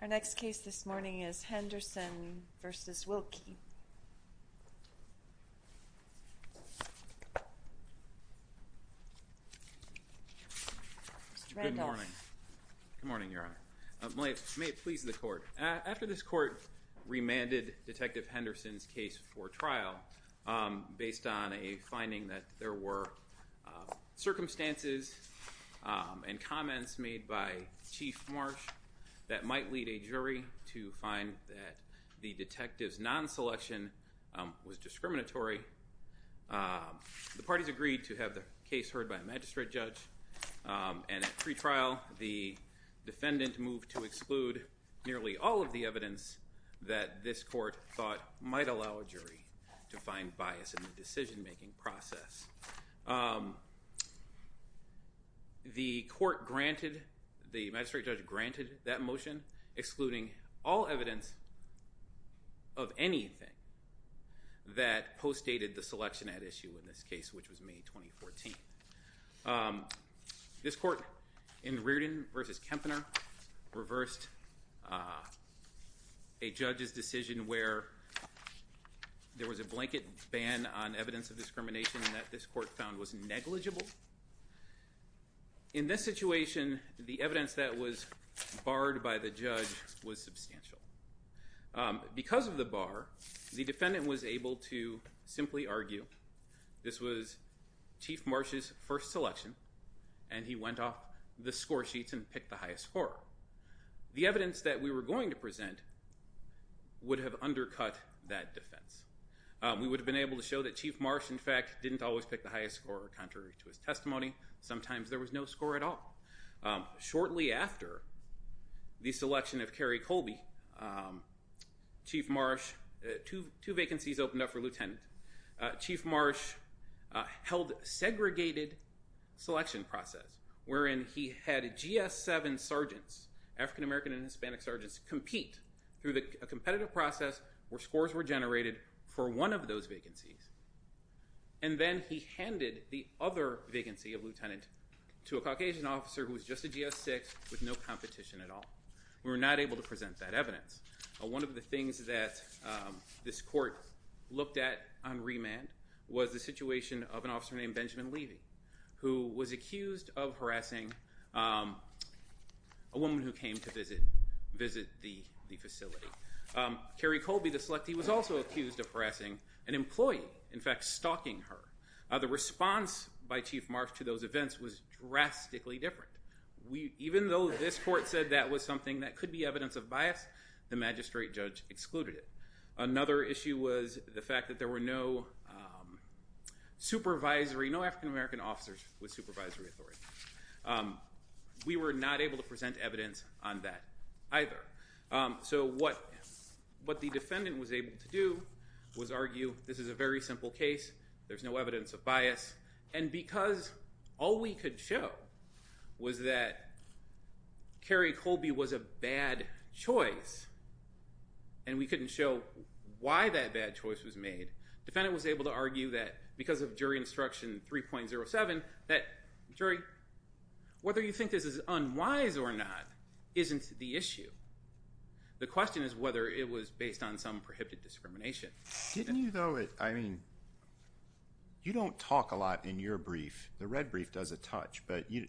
Our next case this morning is Henderson v. Wilkie. Good morning, Your Honor. May it please the Court. After this Court remanded Detective Henderson's case for trial, based on a finding that there were circumstances and comments made by Chief Marsh that might lead a jury to find that the detective's non-selection was discriminatory, the parties agreed to have the case heard by a magistrate judge, and at pre-trial, the defendant moved to exclude nearly all of the evidence that this Court thought might allow a jury to find bias in the decision-making process. The Court granted, the magistrate judge granted that motion, excluding all evidence of anything that postdated the selection at issue in this case, which was May 2014. This Court, in Reardon v. Kempner, reversed a judge's decision where there was a blanket ban on evidence of discrimination that this Court found was negligible. In this situation, the evidence that was barred by the judge was substantial. Because of the bar, the defendant was able to simply argue this was Chief Marsh's first selection and he went off the score sheets and picked the highest score. The evidence that we were going to present would have undercut that defense. We would have been able to show that Chief Marsh, in fact, didn't always pick the highest score contrary to his testimony. Sometimes there was no score at all. Shortly after the selection of Kerry Colby, Chief Marsh, two vacancies opened up for lieutenant. Chief Marsh held segregated selection process wherein he had GS-7 sergeants, African American and Hispanic sergeants, compete through a competitive process where scores were generated for one of those vacancies. And then he handed the other vacancy of lieutenant to a Caucasian officer who was just a GS-6 with no competition at all. We were not able to present that evidence. One of the things that this Court looked at on remand was the situation of an officer named Benjamin Levy who was accused of harassing a woman who came to visit the facility. Kerry Colby, the selectee, was also accused of harassing an employee, in fact, stalking her. The response by Chief Marsh to those events was drastically different. Even though this Court said that was something that could be evidence of bias, the magistrate judge excluded it. Another issue was the fact that there were no supervisory, no African American officers with supervisory authority. We were not able to present evidence on that either. So what the defendant was able to do was argue this is a very simple case, there's no evidence of bias, and because all we could show was that Kerry Colby was a bad choice and we couldn't show why that bad choice was made, the defendant was able to argue that because of jury instruction 3.07 that, jury, whether you think this is unwise or not isn't the issue. The question is whether it was based on some prohibited discrimination. Didn't you though, I mean, you don't talk a lot in your brief, the red brief does a touch, but you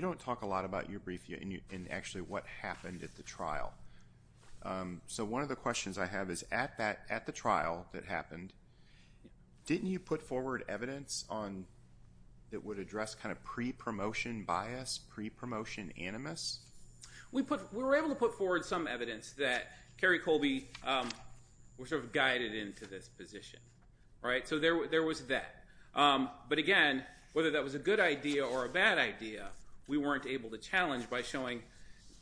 don't talk a lot about your brief and actually what happened at the trial. So one of the questions I have is at the trial that happened, didn't you put forward evidence on, that would address kind of pre-promotion bias, pre-promotion animus? We were able to put forward some evidence that Kerry Colby was sort of guided into this position. Right? So there was that. But again, whether that was a good idea or a bad idea, we weren't able to challenge by showing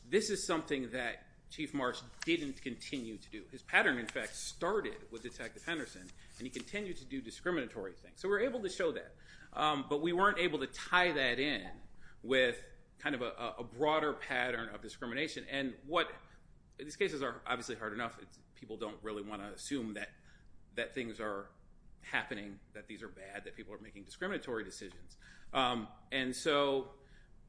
this is something that Chief Marsh didn't continue to do. His pattern in fact started with Detective Henderson and he continued to do discriminatory things. So we were able to show that. But we weren't able to tie that in with kind of a broader pattern of discrimination. And what, these cases are obviously hard enough, people don't really want to assume that things are happening, that these are bad, that people are making discriminatory decisions. And so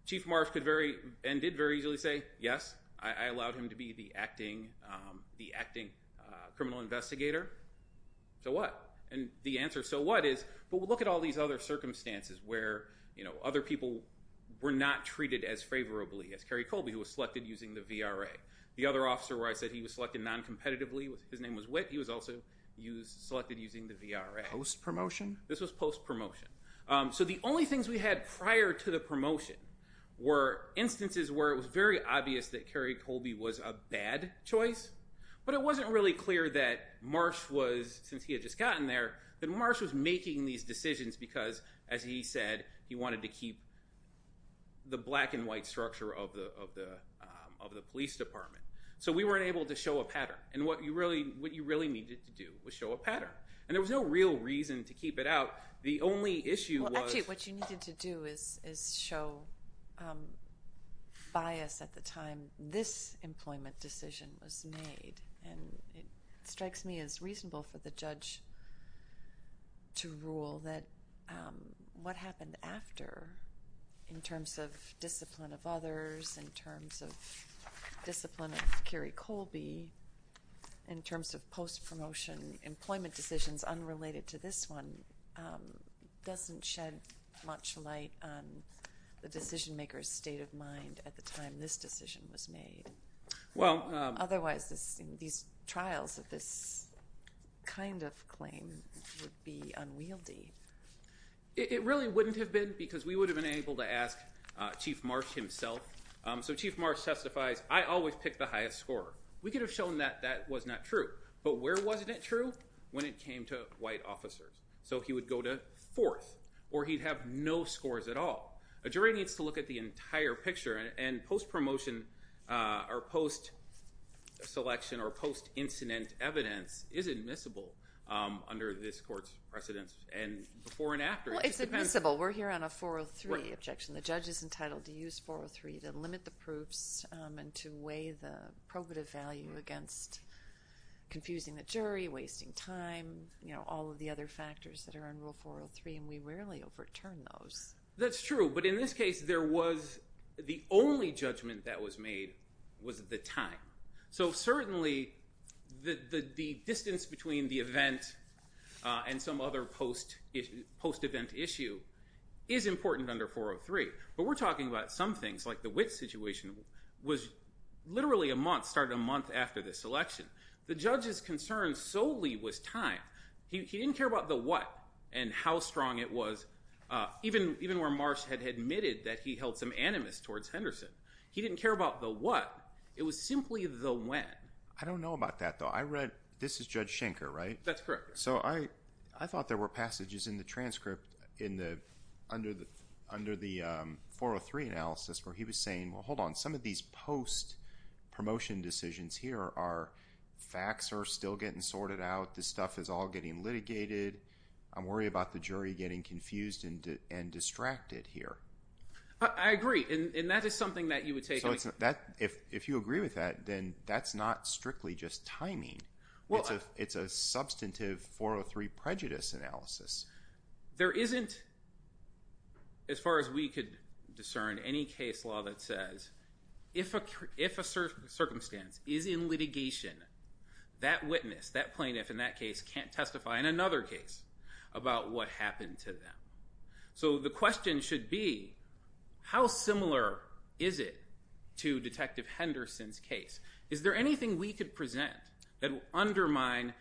Chief Marsh could very, and did very easily say, yes, I allowed him to be the acting criminal investigator. So what? And the answer, so what, is, but look at all these other circumstances where other people were not treated as favorably as Kerry Colby, who was selected using the VRA. The other officer where I said he was selected non-competitively, his name was Witt, he was also selected using the VRA. Post-promotion? This was post-promotion. So the only things we had prior to the promotion were instances where it was very obvious that Kerry Colby was a bad choice. But it wasn't really clear that Marsh was, since he had just gotten there, that Marsh was making these decisions because, as he said, he wanted to keep the black and white structure of the police department. So we weren't able to show a pattern. And what you really needed to do was show a pattern. And there was no real reason to keep it out. The only issue was- Well, actually, what you needed to do is show bias at the time. And this employment decision was made. And it strikes me as reasonable for the judge to rule that what happened after, in terms of discipline of others, in terms of discipline of Kerry Colby, in terms of post-promotion employment decisions unrelated to this one, doesn't shed much light on the decision-maker's state of mind at the time this decision was made. Well- Otherwise, these trials of this kind of claim would be unwieldy. It really wouldn't have been because we would have been able to ask Chief Marsh himself. So Chief Marsh testifies, I always pick the highest scorer. We could have shown that that was not true. But where wasn't it true? When it came to white officers. So he would go to fourth. Or he'd have no scores at all. A jury needs to look at the entire picture. And post-promotion, or post-selection, or post-incident evidence is admissible under this court's precedence. And before and after- Well, it's admissible. We're here on a 403 objection. Right. The judge is entitled to use 403 to limit the proofs and to weigh the probative value against confusing the jury, wasting time, all of the other factors that are in Rule 403. And we rarely overturn those. That's true. But in this case, there was- the only judgment that was made was the time. So certainly, the distance between the event and some other post-event issue is important under 403. But we're talking about some things, like the Witt situation was literally a month, started a month after this election. The judge's concern solely was time. He didn't care about the what and how strong it was, even where Marsh had admitted that he held some animus towards Henderson. He didn't care about the what. It was simply the when. I don't know about that, though. I read- this is Judge Schenker, right? That's correct. So I thought there were passages in the transcript under the 403 analysis where he was saying, well, hold on. Some of these post-promotion decisions here are facts are still getting sorted out. This stuff is all getting litigated. I'm worried about the jury getting confused and distracted here. I agree. And that is something that you would take- If you agree with that, then that's not strictly just timing. It's a substantive 403 prejudice analysis. There isn't, as far as we could discern, any case law that says, if a circumstance is in that case, can't testify in another case about what happened to them. So the question should be, how similar is it to Detective Henderson's case? Is there anything we could present that would undermine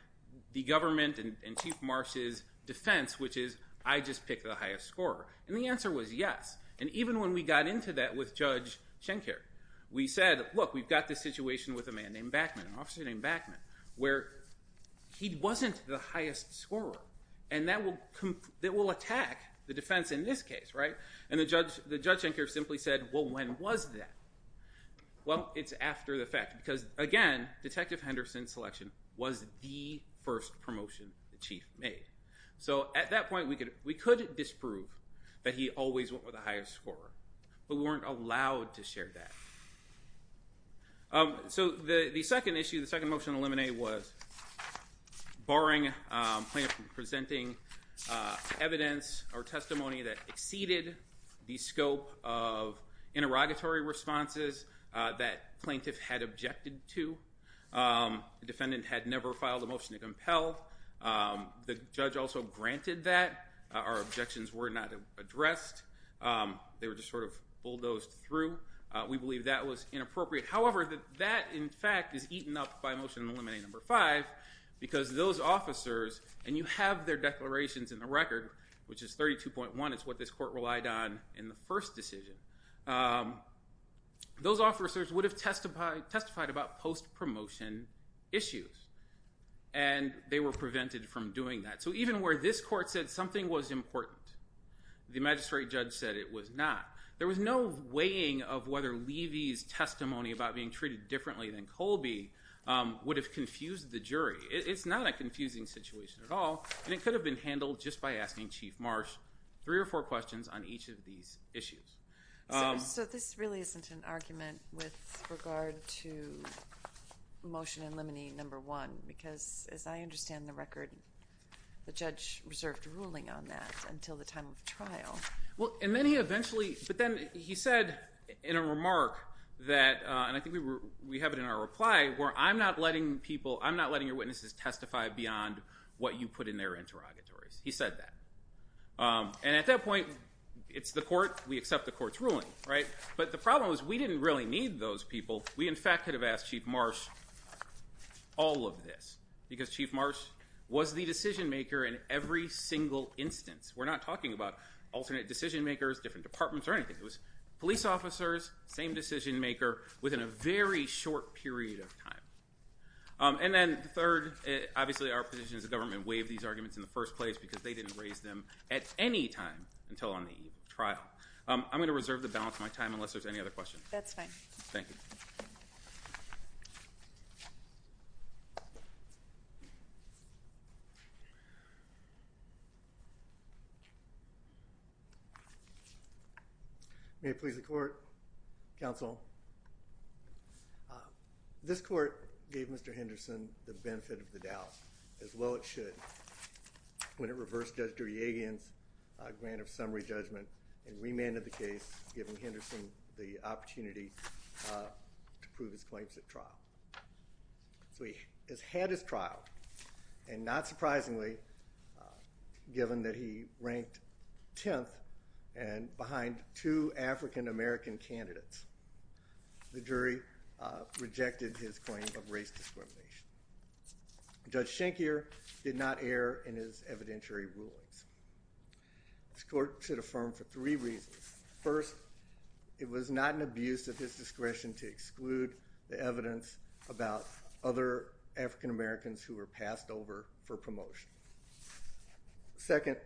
the government and Chief Marsh's defense, which is, I just picked the highest scorer? And the answer was yes. And even when we got into that with Judge Schenker, we said, look, we've got this situation with a man named Backman, an officer named Backman, where he wasn't the highest scorer. And that will attack the defense in this case, right? And the Judge Schenker simply said, well, when was that? Well, it's after the fact. Because again, Detective Henderson's selection was the first promotion the Chief made. So at that point, we could disprove that he always went with the highest scorer. But we weren't allowed to share that. So the second issue, the second motion to eliminate was, barring plaintiff from presenting evidence or testimony that exceeded the scope of interrogatory responses that plaintiff had objected to, the defendant had never filed a motion to compel, the judge also granted that, our objections were not addressed, they were just sort of bulldozed through. We believe that was inappropriate. However, that, in fact, is eaten up by motion to eliminate number five, because those officers, and you have their declarations in the record, which is 32.1, it's what this court relied on in the first decision. Those officers would have testified about post-promotion issues. And they were prevented from doing that. So even where this court said something was important, the magistrate judge said it was not. There was no weighing of whether Levy's testimony about being treated differently than Colby would have confused the jury. It's not a confusing situation at all. And it could have been handled just by asking Chief Marsh three or four questions on each of these issues. So this really isn't an argument with regard to motion to eliminate number one, because as I understand the record, the judge reserved ruling on that until the time of the trial. Well, and then he eventually, but then he said in a remark that, and I think we have it in our reply, where I'm not letting people, I'm not letting your witnesses testify beyond what you put in their interrogatories. He said that. And at that point, it's the court, we accept the court's ruling, right? But the problem is we didn't really need those people. We in fact could have asked Chief Marsh all of this, because Chief Marsh was the decision maker in every single instance. We're not talking about alternate decision makers, different departments, or anything. It was police officers, same decision maker, within a very short period of time. And then third, obviously our position is the government waived these arguments in the first place because they didn't raise them at any time until on the eve of the trial. I'm going to reserve the balance of my time unless there's any other questions. That's fine. Thank you. May it please the court, counsel. This court gave Mr. Henderson the benefit of the doubt, as well it should, when it reversed Judge Duryagin's grant of summary judgment and remanded the case, giving Henderson the So he has had his trial, and not surprisingly, given that he ranked 10th behind two African-American candidates, the jury rejected his claim of race discrimination. Judge Shenkier did not err in his evidentiary rulings. This court should affirm for three reasons. First, it was not an abuse of his discretion to exclude the evidence about other African-Americans who were passed over for promotion. Second,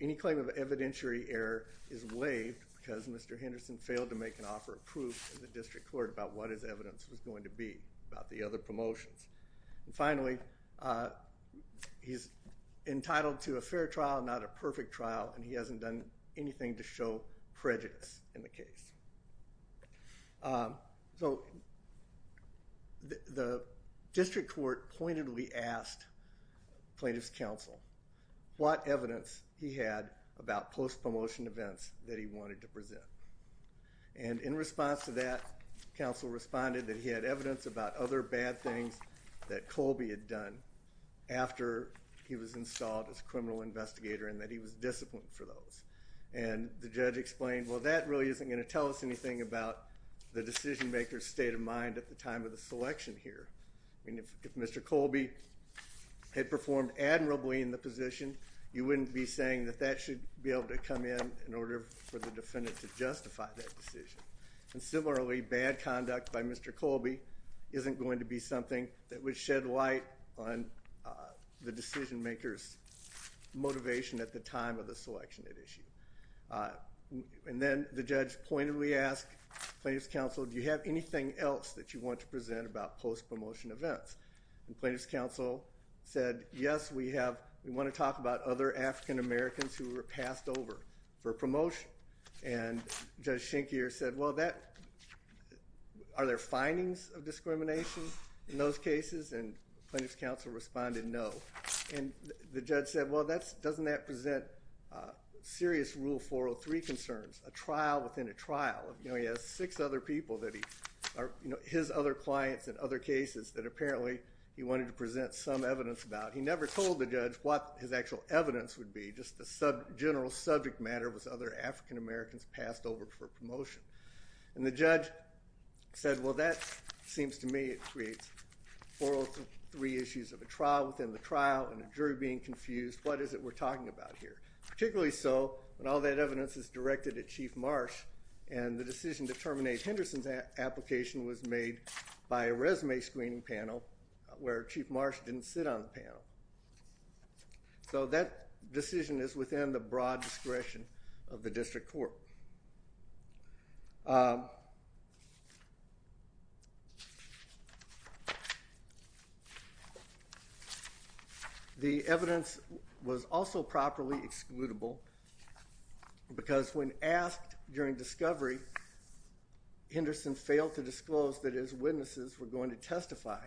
any claim of evidentiary error is waived because Mr. Henderson failed to make an offer of proof to the district court about what his evidence was going to be about the other promotions. And finally, he's entitled to a fair trial, not a perfect trial, and he hasn't done anything to show prejudice in the case. So the district court pointedly asked plaintiff's counsel what evidence he had about post-promotion events that he wanted to present, and in response to that, counsel responded that he had evidence about other bad things that Colby had done after he was installed as criminal investigator and that he was disciplined for those. And the judge explained, well, that really isn't going to tell us anything about the decision-maker's state of mind at the time of the selection here. I mean, if Mr. Colby had performed admirably in the position, you wouldn't be saying that that should be able to come in in order for the defendant to justify that decision. And similarly, bad conduct by Mr. Colby isn't going to be something that would shed light on the decision-maker's motivation at the time of the selection at issue. And then the judge pointedly asked plaintiff's counsel, do you have anything else that you want to present about post-promotion events? And plaintiff's counsel said, yes, we want to talk about other African-Americans who were passed over for promotion. And Judge Schenkeer said, well, are there findings of discrimination in those cases? And plaintiff's counsel responded, no. And the judge said, well, doesn't that present serious Rule 403 concerns, a trial within a trial? You know, he has six other people that he are, you know, his other clients in other cases that apparently he wanted to present some evidence about. He never told the judge what his actual evidence would be, just the general subject matter was other African-Americans passed over for promotion. And the judge said, well, that seems to me it creates 403 issues of a trial within the trial and a jury being confused. What is it we're talking about here? Particularly so when all that evidence is directed at Chief Marsh and the decision to terminate Henderson's application was made by a resume screening panel where Chief Marsh didn't sit on the panel. So, that decision is within the broad discretion of the district court. The evidence was also properly excludable because when asked during discovery, Henderson failed to disclose that his witnesses were going to testify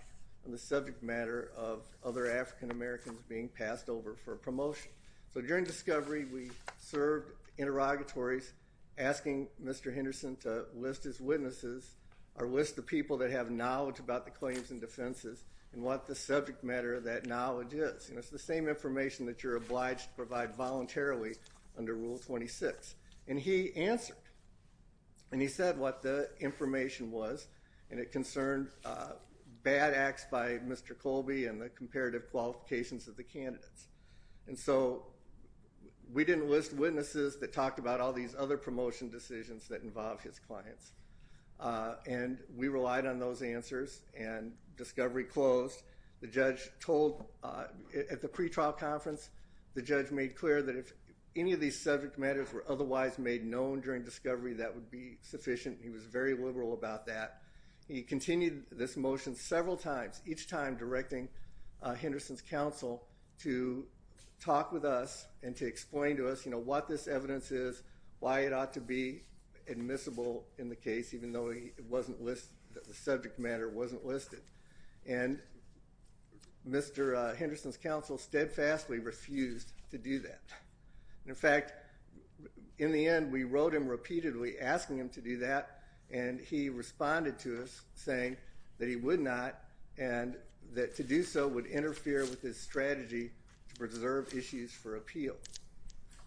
on the subject matter of other African-Americans being passed over for promotion. So, during discovery, we served interrogatories asking Mr. Henderson to list his witnesses or list the people that have knowledge about the claims and defenses and what the subject matter of that knowledge is. You know, it's the same information that you're obliged to provide voluntarily under Rule 26. And he answered. And he said what the information was. And it concerned bad acts by Mr. Colby and the comparative qualifications of the candidates. And so, we didn't list witnesses that talked about all these other promotion decisions that involved his clients. And we relied on those answers and discovery closed. The judge told, at the pretrial conference, the judge made clear that if any of these subject matters were otherwise made known during discovery, that would be sufficient. He was very liberal about that. He continued this motion several times, each time directing Henderson's counsel to talk with us and to explain to us, you know, what this evidence is, why it ought to be admissible in the case, even though the subject matter wasn't listed. And Mr. Henderson's counsel steadfastly refused to do that. In fact, in the end, we wrote him repeatedly asking him to do that. And he responded to us saying that he would not and that to do so would interfere with his strategy to preserve issues for appeal.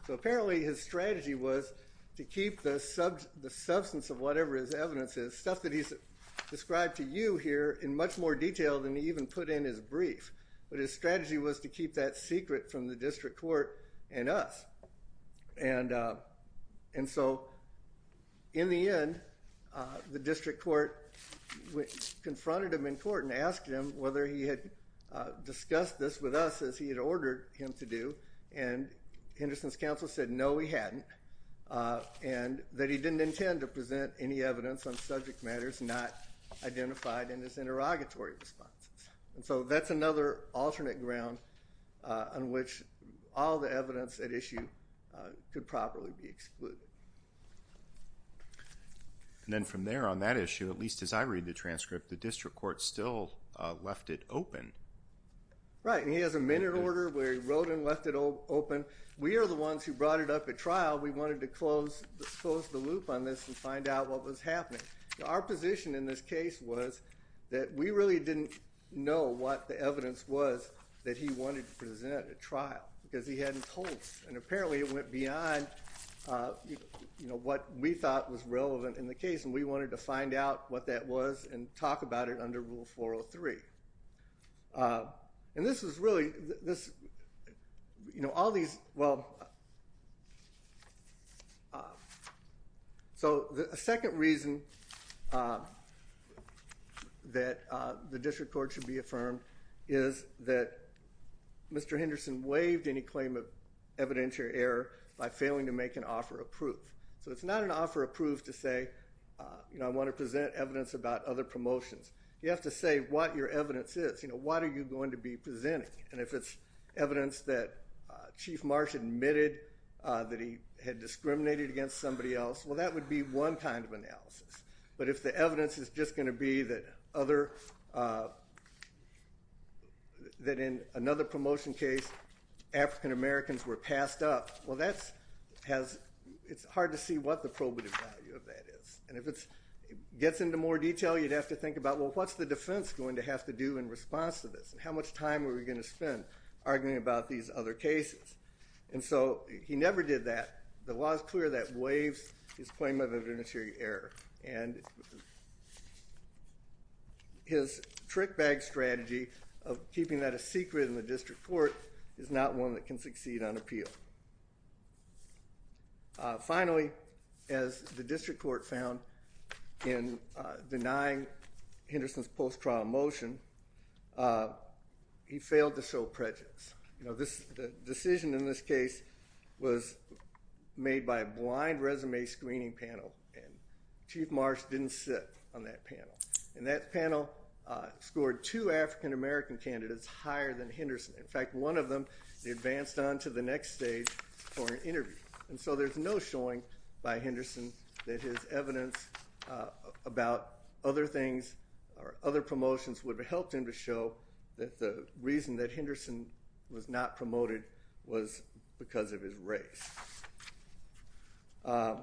So, apparently, his strategy was to keep the substance of whatever his evidence is, stuff that he's described to you here, in much more detail than he even put in his brief. But his strategy was to keep that secret from the district court and us. And so, in the end, the district court confronted him in court and asked him whether he had discussed this with us, as he had ordered him to do. And Henderson's counsel said, no, he hadn't. And that he didn't intend to present any evidence on subject matters not identified in his interrogatory response. And so, that's another alternate ground on which all the evidence at issue could properly be excluded. And then, from there, on that issue, at least as I read the transcript, the district court still left it open. Right. And he has a minute order where he wrote and left it open. We are the ones who brought it up at trial. We wanted to close the loop on this and find out what was happening. Our position in this case was that we really didn't know what the evidence was that he wanted to present at trial, because he hadn't told us. And apparently, it went beyond what we thought was relevant in the case. And we wanted to find out what that was and talk about it under Rule 403. And this is really, this, you know, all these, well. So, the second reason that the district court should be affirmed is that Mr. Henderson waived any claim of evidentiary error by failing to make an offer of proof. So, it's not an offer of proof to say, you know, I want to present evidence about other promotions. You have to say what your evidence is. You know, what are you going to be presenting? And if it's evidence that Chief Marsh admitted that he had discriminated against somebody else, well, that would be one kind of analysis. But if the evidence is just going to be that other, that in another promotion case, African Americans were passed up, well, that has, it's hard to see what the probative value of that is. And if it gets into more detail, you'd have to think about, well, what's the defense going to have to do in response to this? How much time are we going to spend arguing about these other cases? And so, he never did that. The law is clear that waives his claim of evidentiary error. And his trick bag strategy of keeping that a secret in the district court is not one that can succeed on appeal. Finally, as the district court found in denying Henderson's post-trial motion, he failed to show prejudice. You know, the decision in this case was made by a blind resume screening panel, and Chief Marsh didn't sit on that panel. And that panel scored two African American candidates higher than Henderson. In fact, one of them, he advanced on to the next stage for an interview. And so, there's no showing by Henderson that his evidence about other things or other promotions would have helped him to show that the reason that Henderson was not promoted was because of his race. And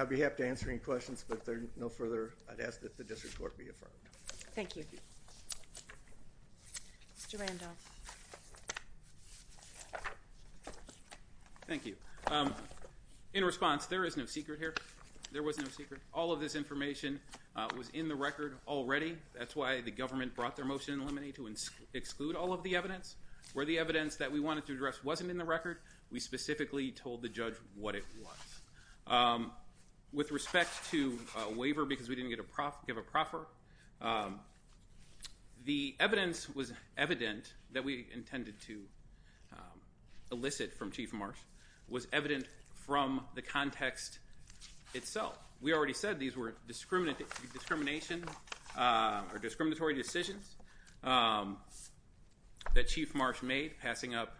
I'd be happy to answer any questions, but there's no further, I'd ask that the district court be affirmed. Thank you. Mr. Randolph. Thank you. In response, there is no secret here. There was no secret. All of this information was in the record already. That's why the government brought their motion in limine to exclude all of the evidence. Where the evidence that we wanted to address wasn't in the record, we specifically told the judge what it was. With respect to a waiver because we didn't get a, give a proffer, the evidence was evident that we intended to elicit from Chief Marsh was evident from the context itself. We already said these were discrimination or discriminatory decisions that Chief Marsh made passing up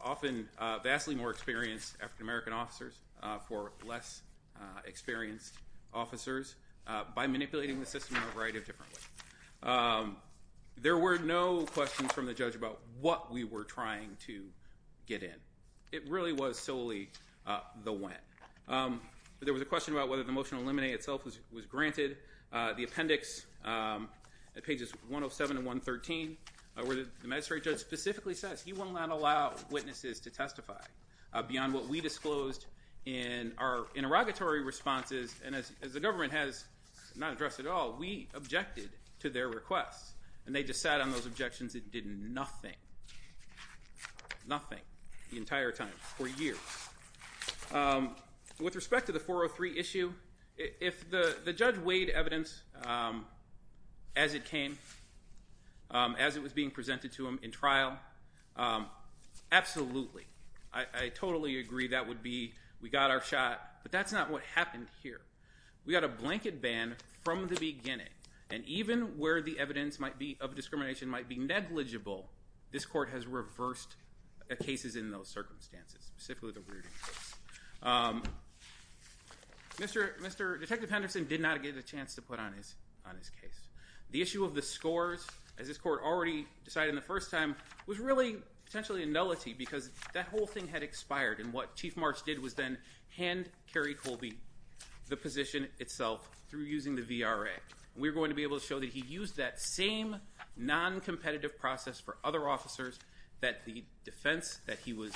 often vastly more experienced African American officers for less experienced officers by manipulating the system in a variety of different ways. There were no questions from the judge about what we were trying to get in. It really was solely the when. There was a question about whether the motion to eliminate itself was granted. The appendix at pages 107 and 113 where the magistrate judge specifically says he will not allow witnesses to testify beyond what we disclosed in our interrogatory responses and as the government has not addressed at all, we objected to their requests and they just sat on those objections and did nothing, nothing the entire time for years. With respect to the 403 issue, if the judge weighed evidence as it came, as it was being presented to him in trial, absolutely, I totally agree that would be we got our shot, but that's not what happened here. We got a blanket ban from the beginning and even where the evidence might be of discrimination might be negligible, this court has reversed cases in those circumstances, specifically the weirding case. Detective Henderson did not get a chance to put on his case. The issue of the scores, as this court already decided in the first time, was really potentially a nullity because that whole thing had expired and what Chief March did was then hand Kerry Colby the position itself through using the VRA and we were going to be able to show that he used that same non-competitive process for other officers that the defense that he was,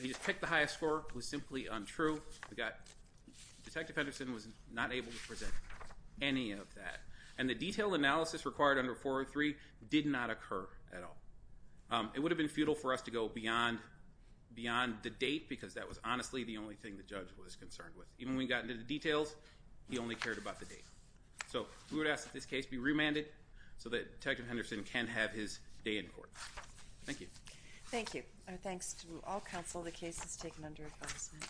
he just picked the highest score, was simply untrue. We got, Detective Henderson was not able to present any of that and the detailed analysis required under 403 did not occur at all. It would have been futile for us to go beyond, beyond the date because that was honestly the only thing the judge was concerned with. Even when we got into the details, he only cared about the date. So we would ask that this case be remanded so that Detective Henderson can have his day in court. Thank you. Thank you. Our thanks to all counsel. The case is taken under advisement.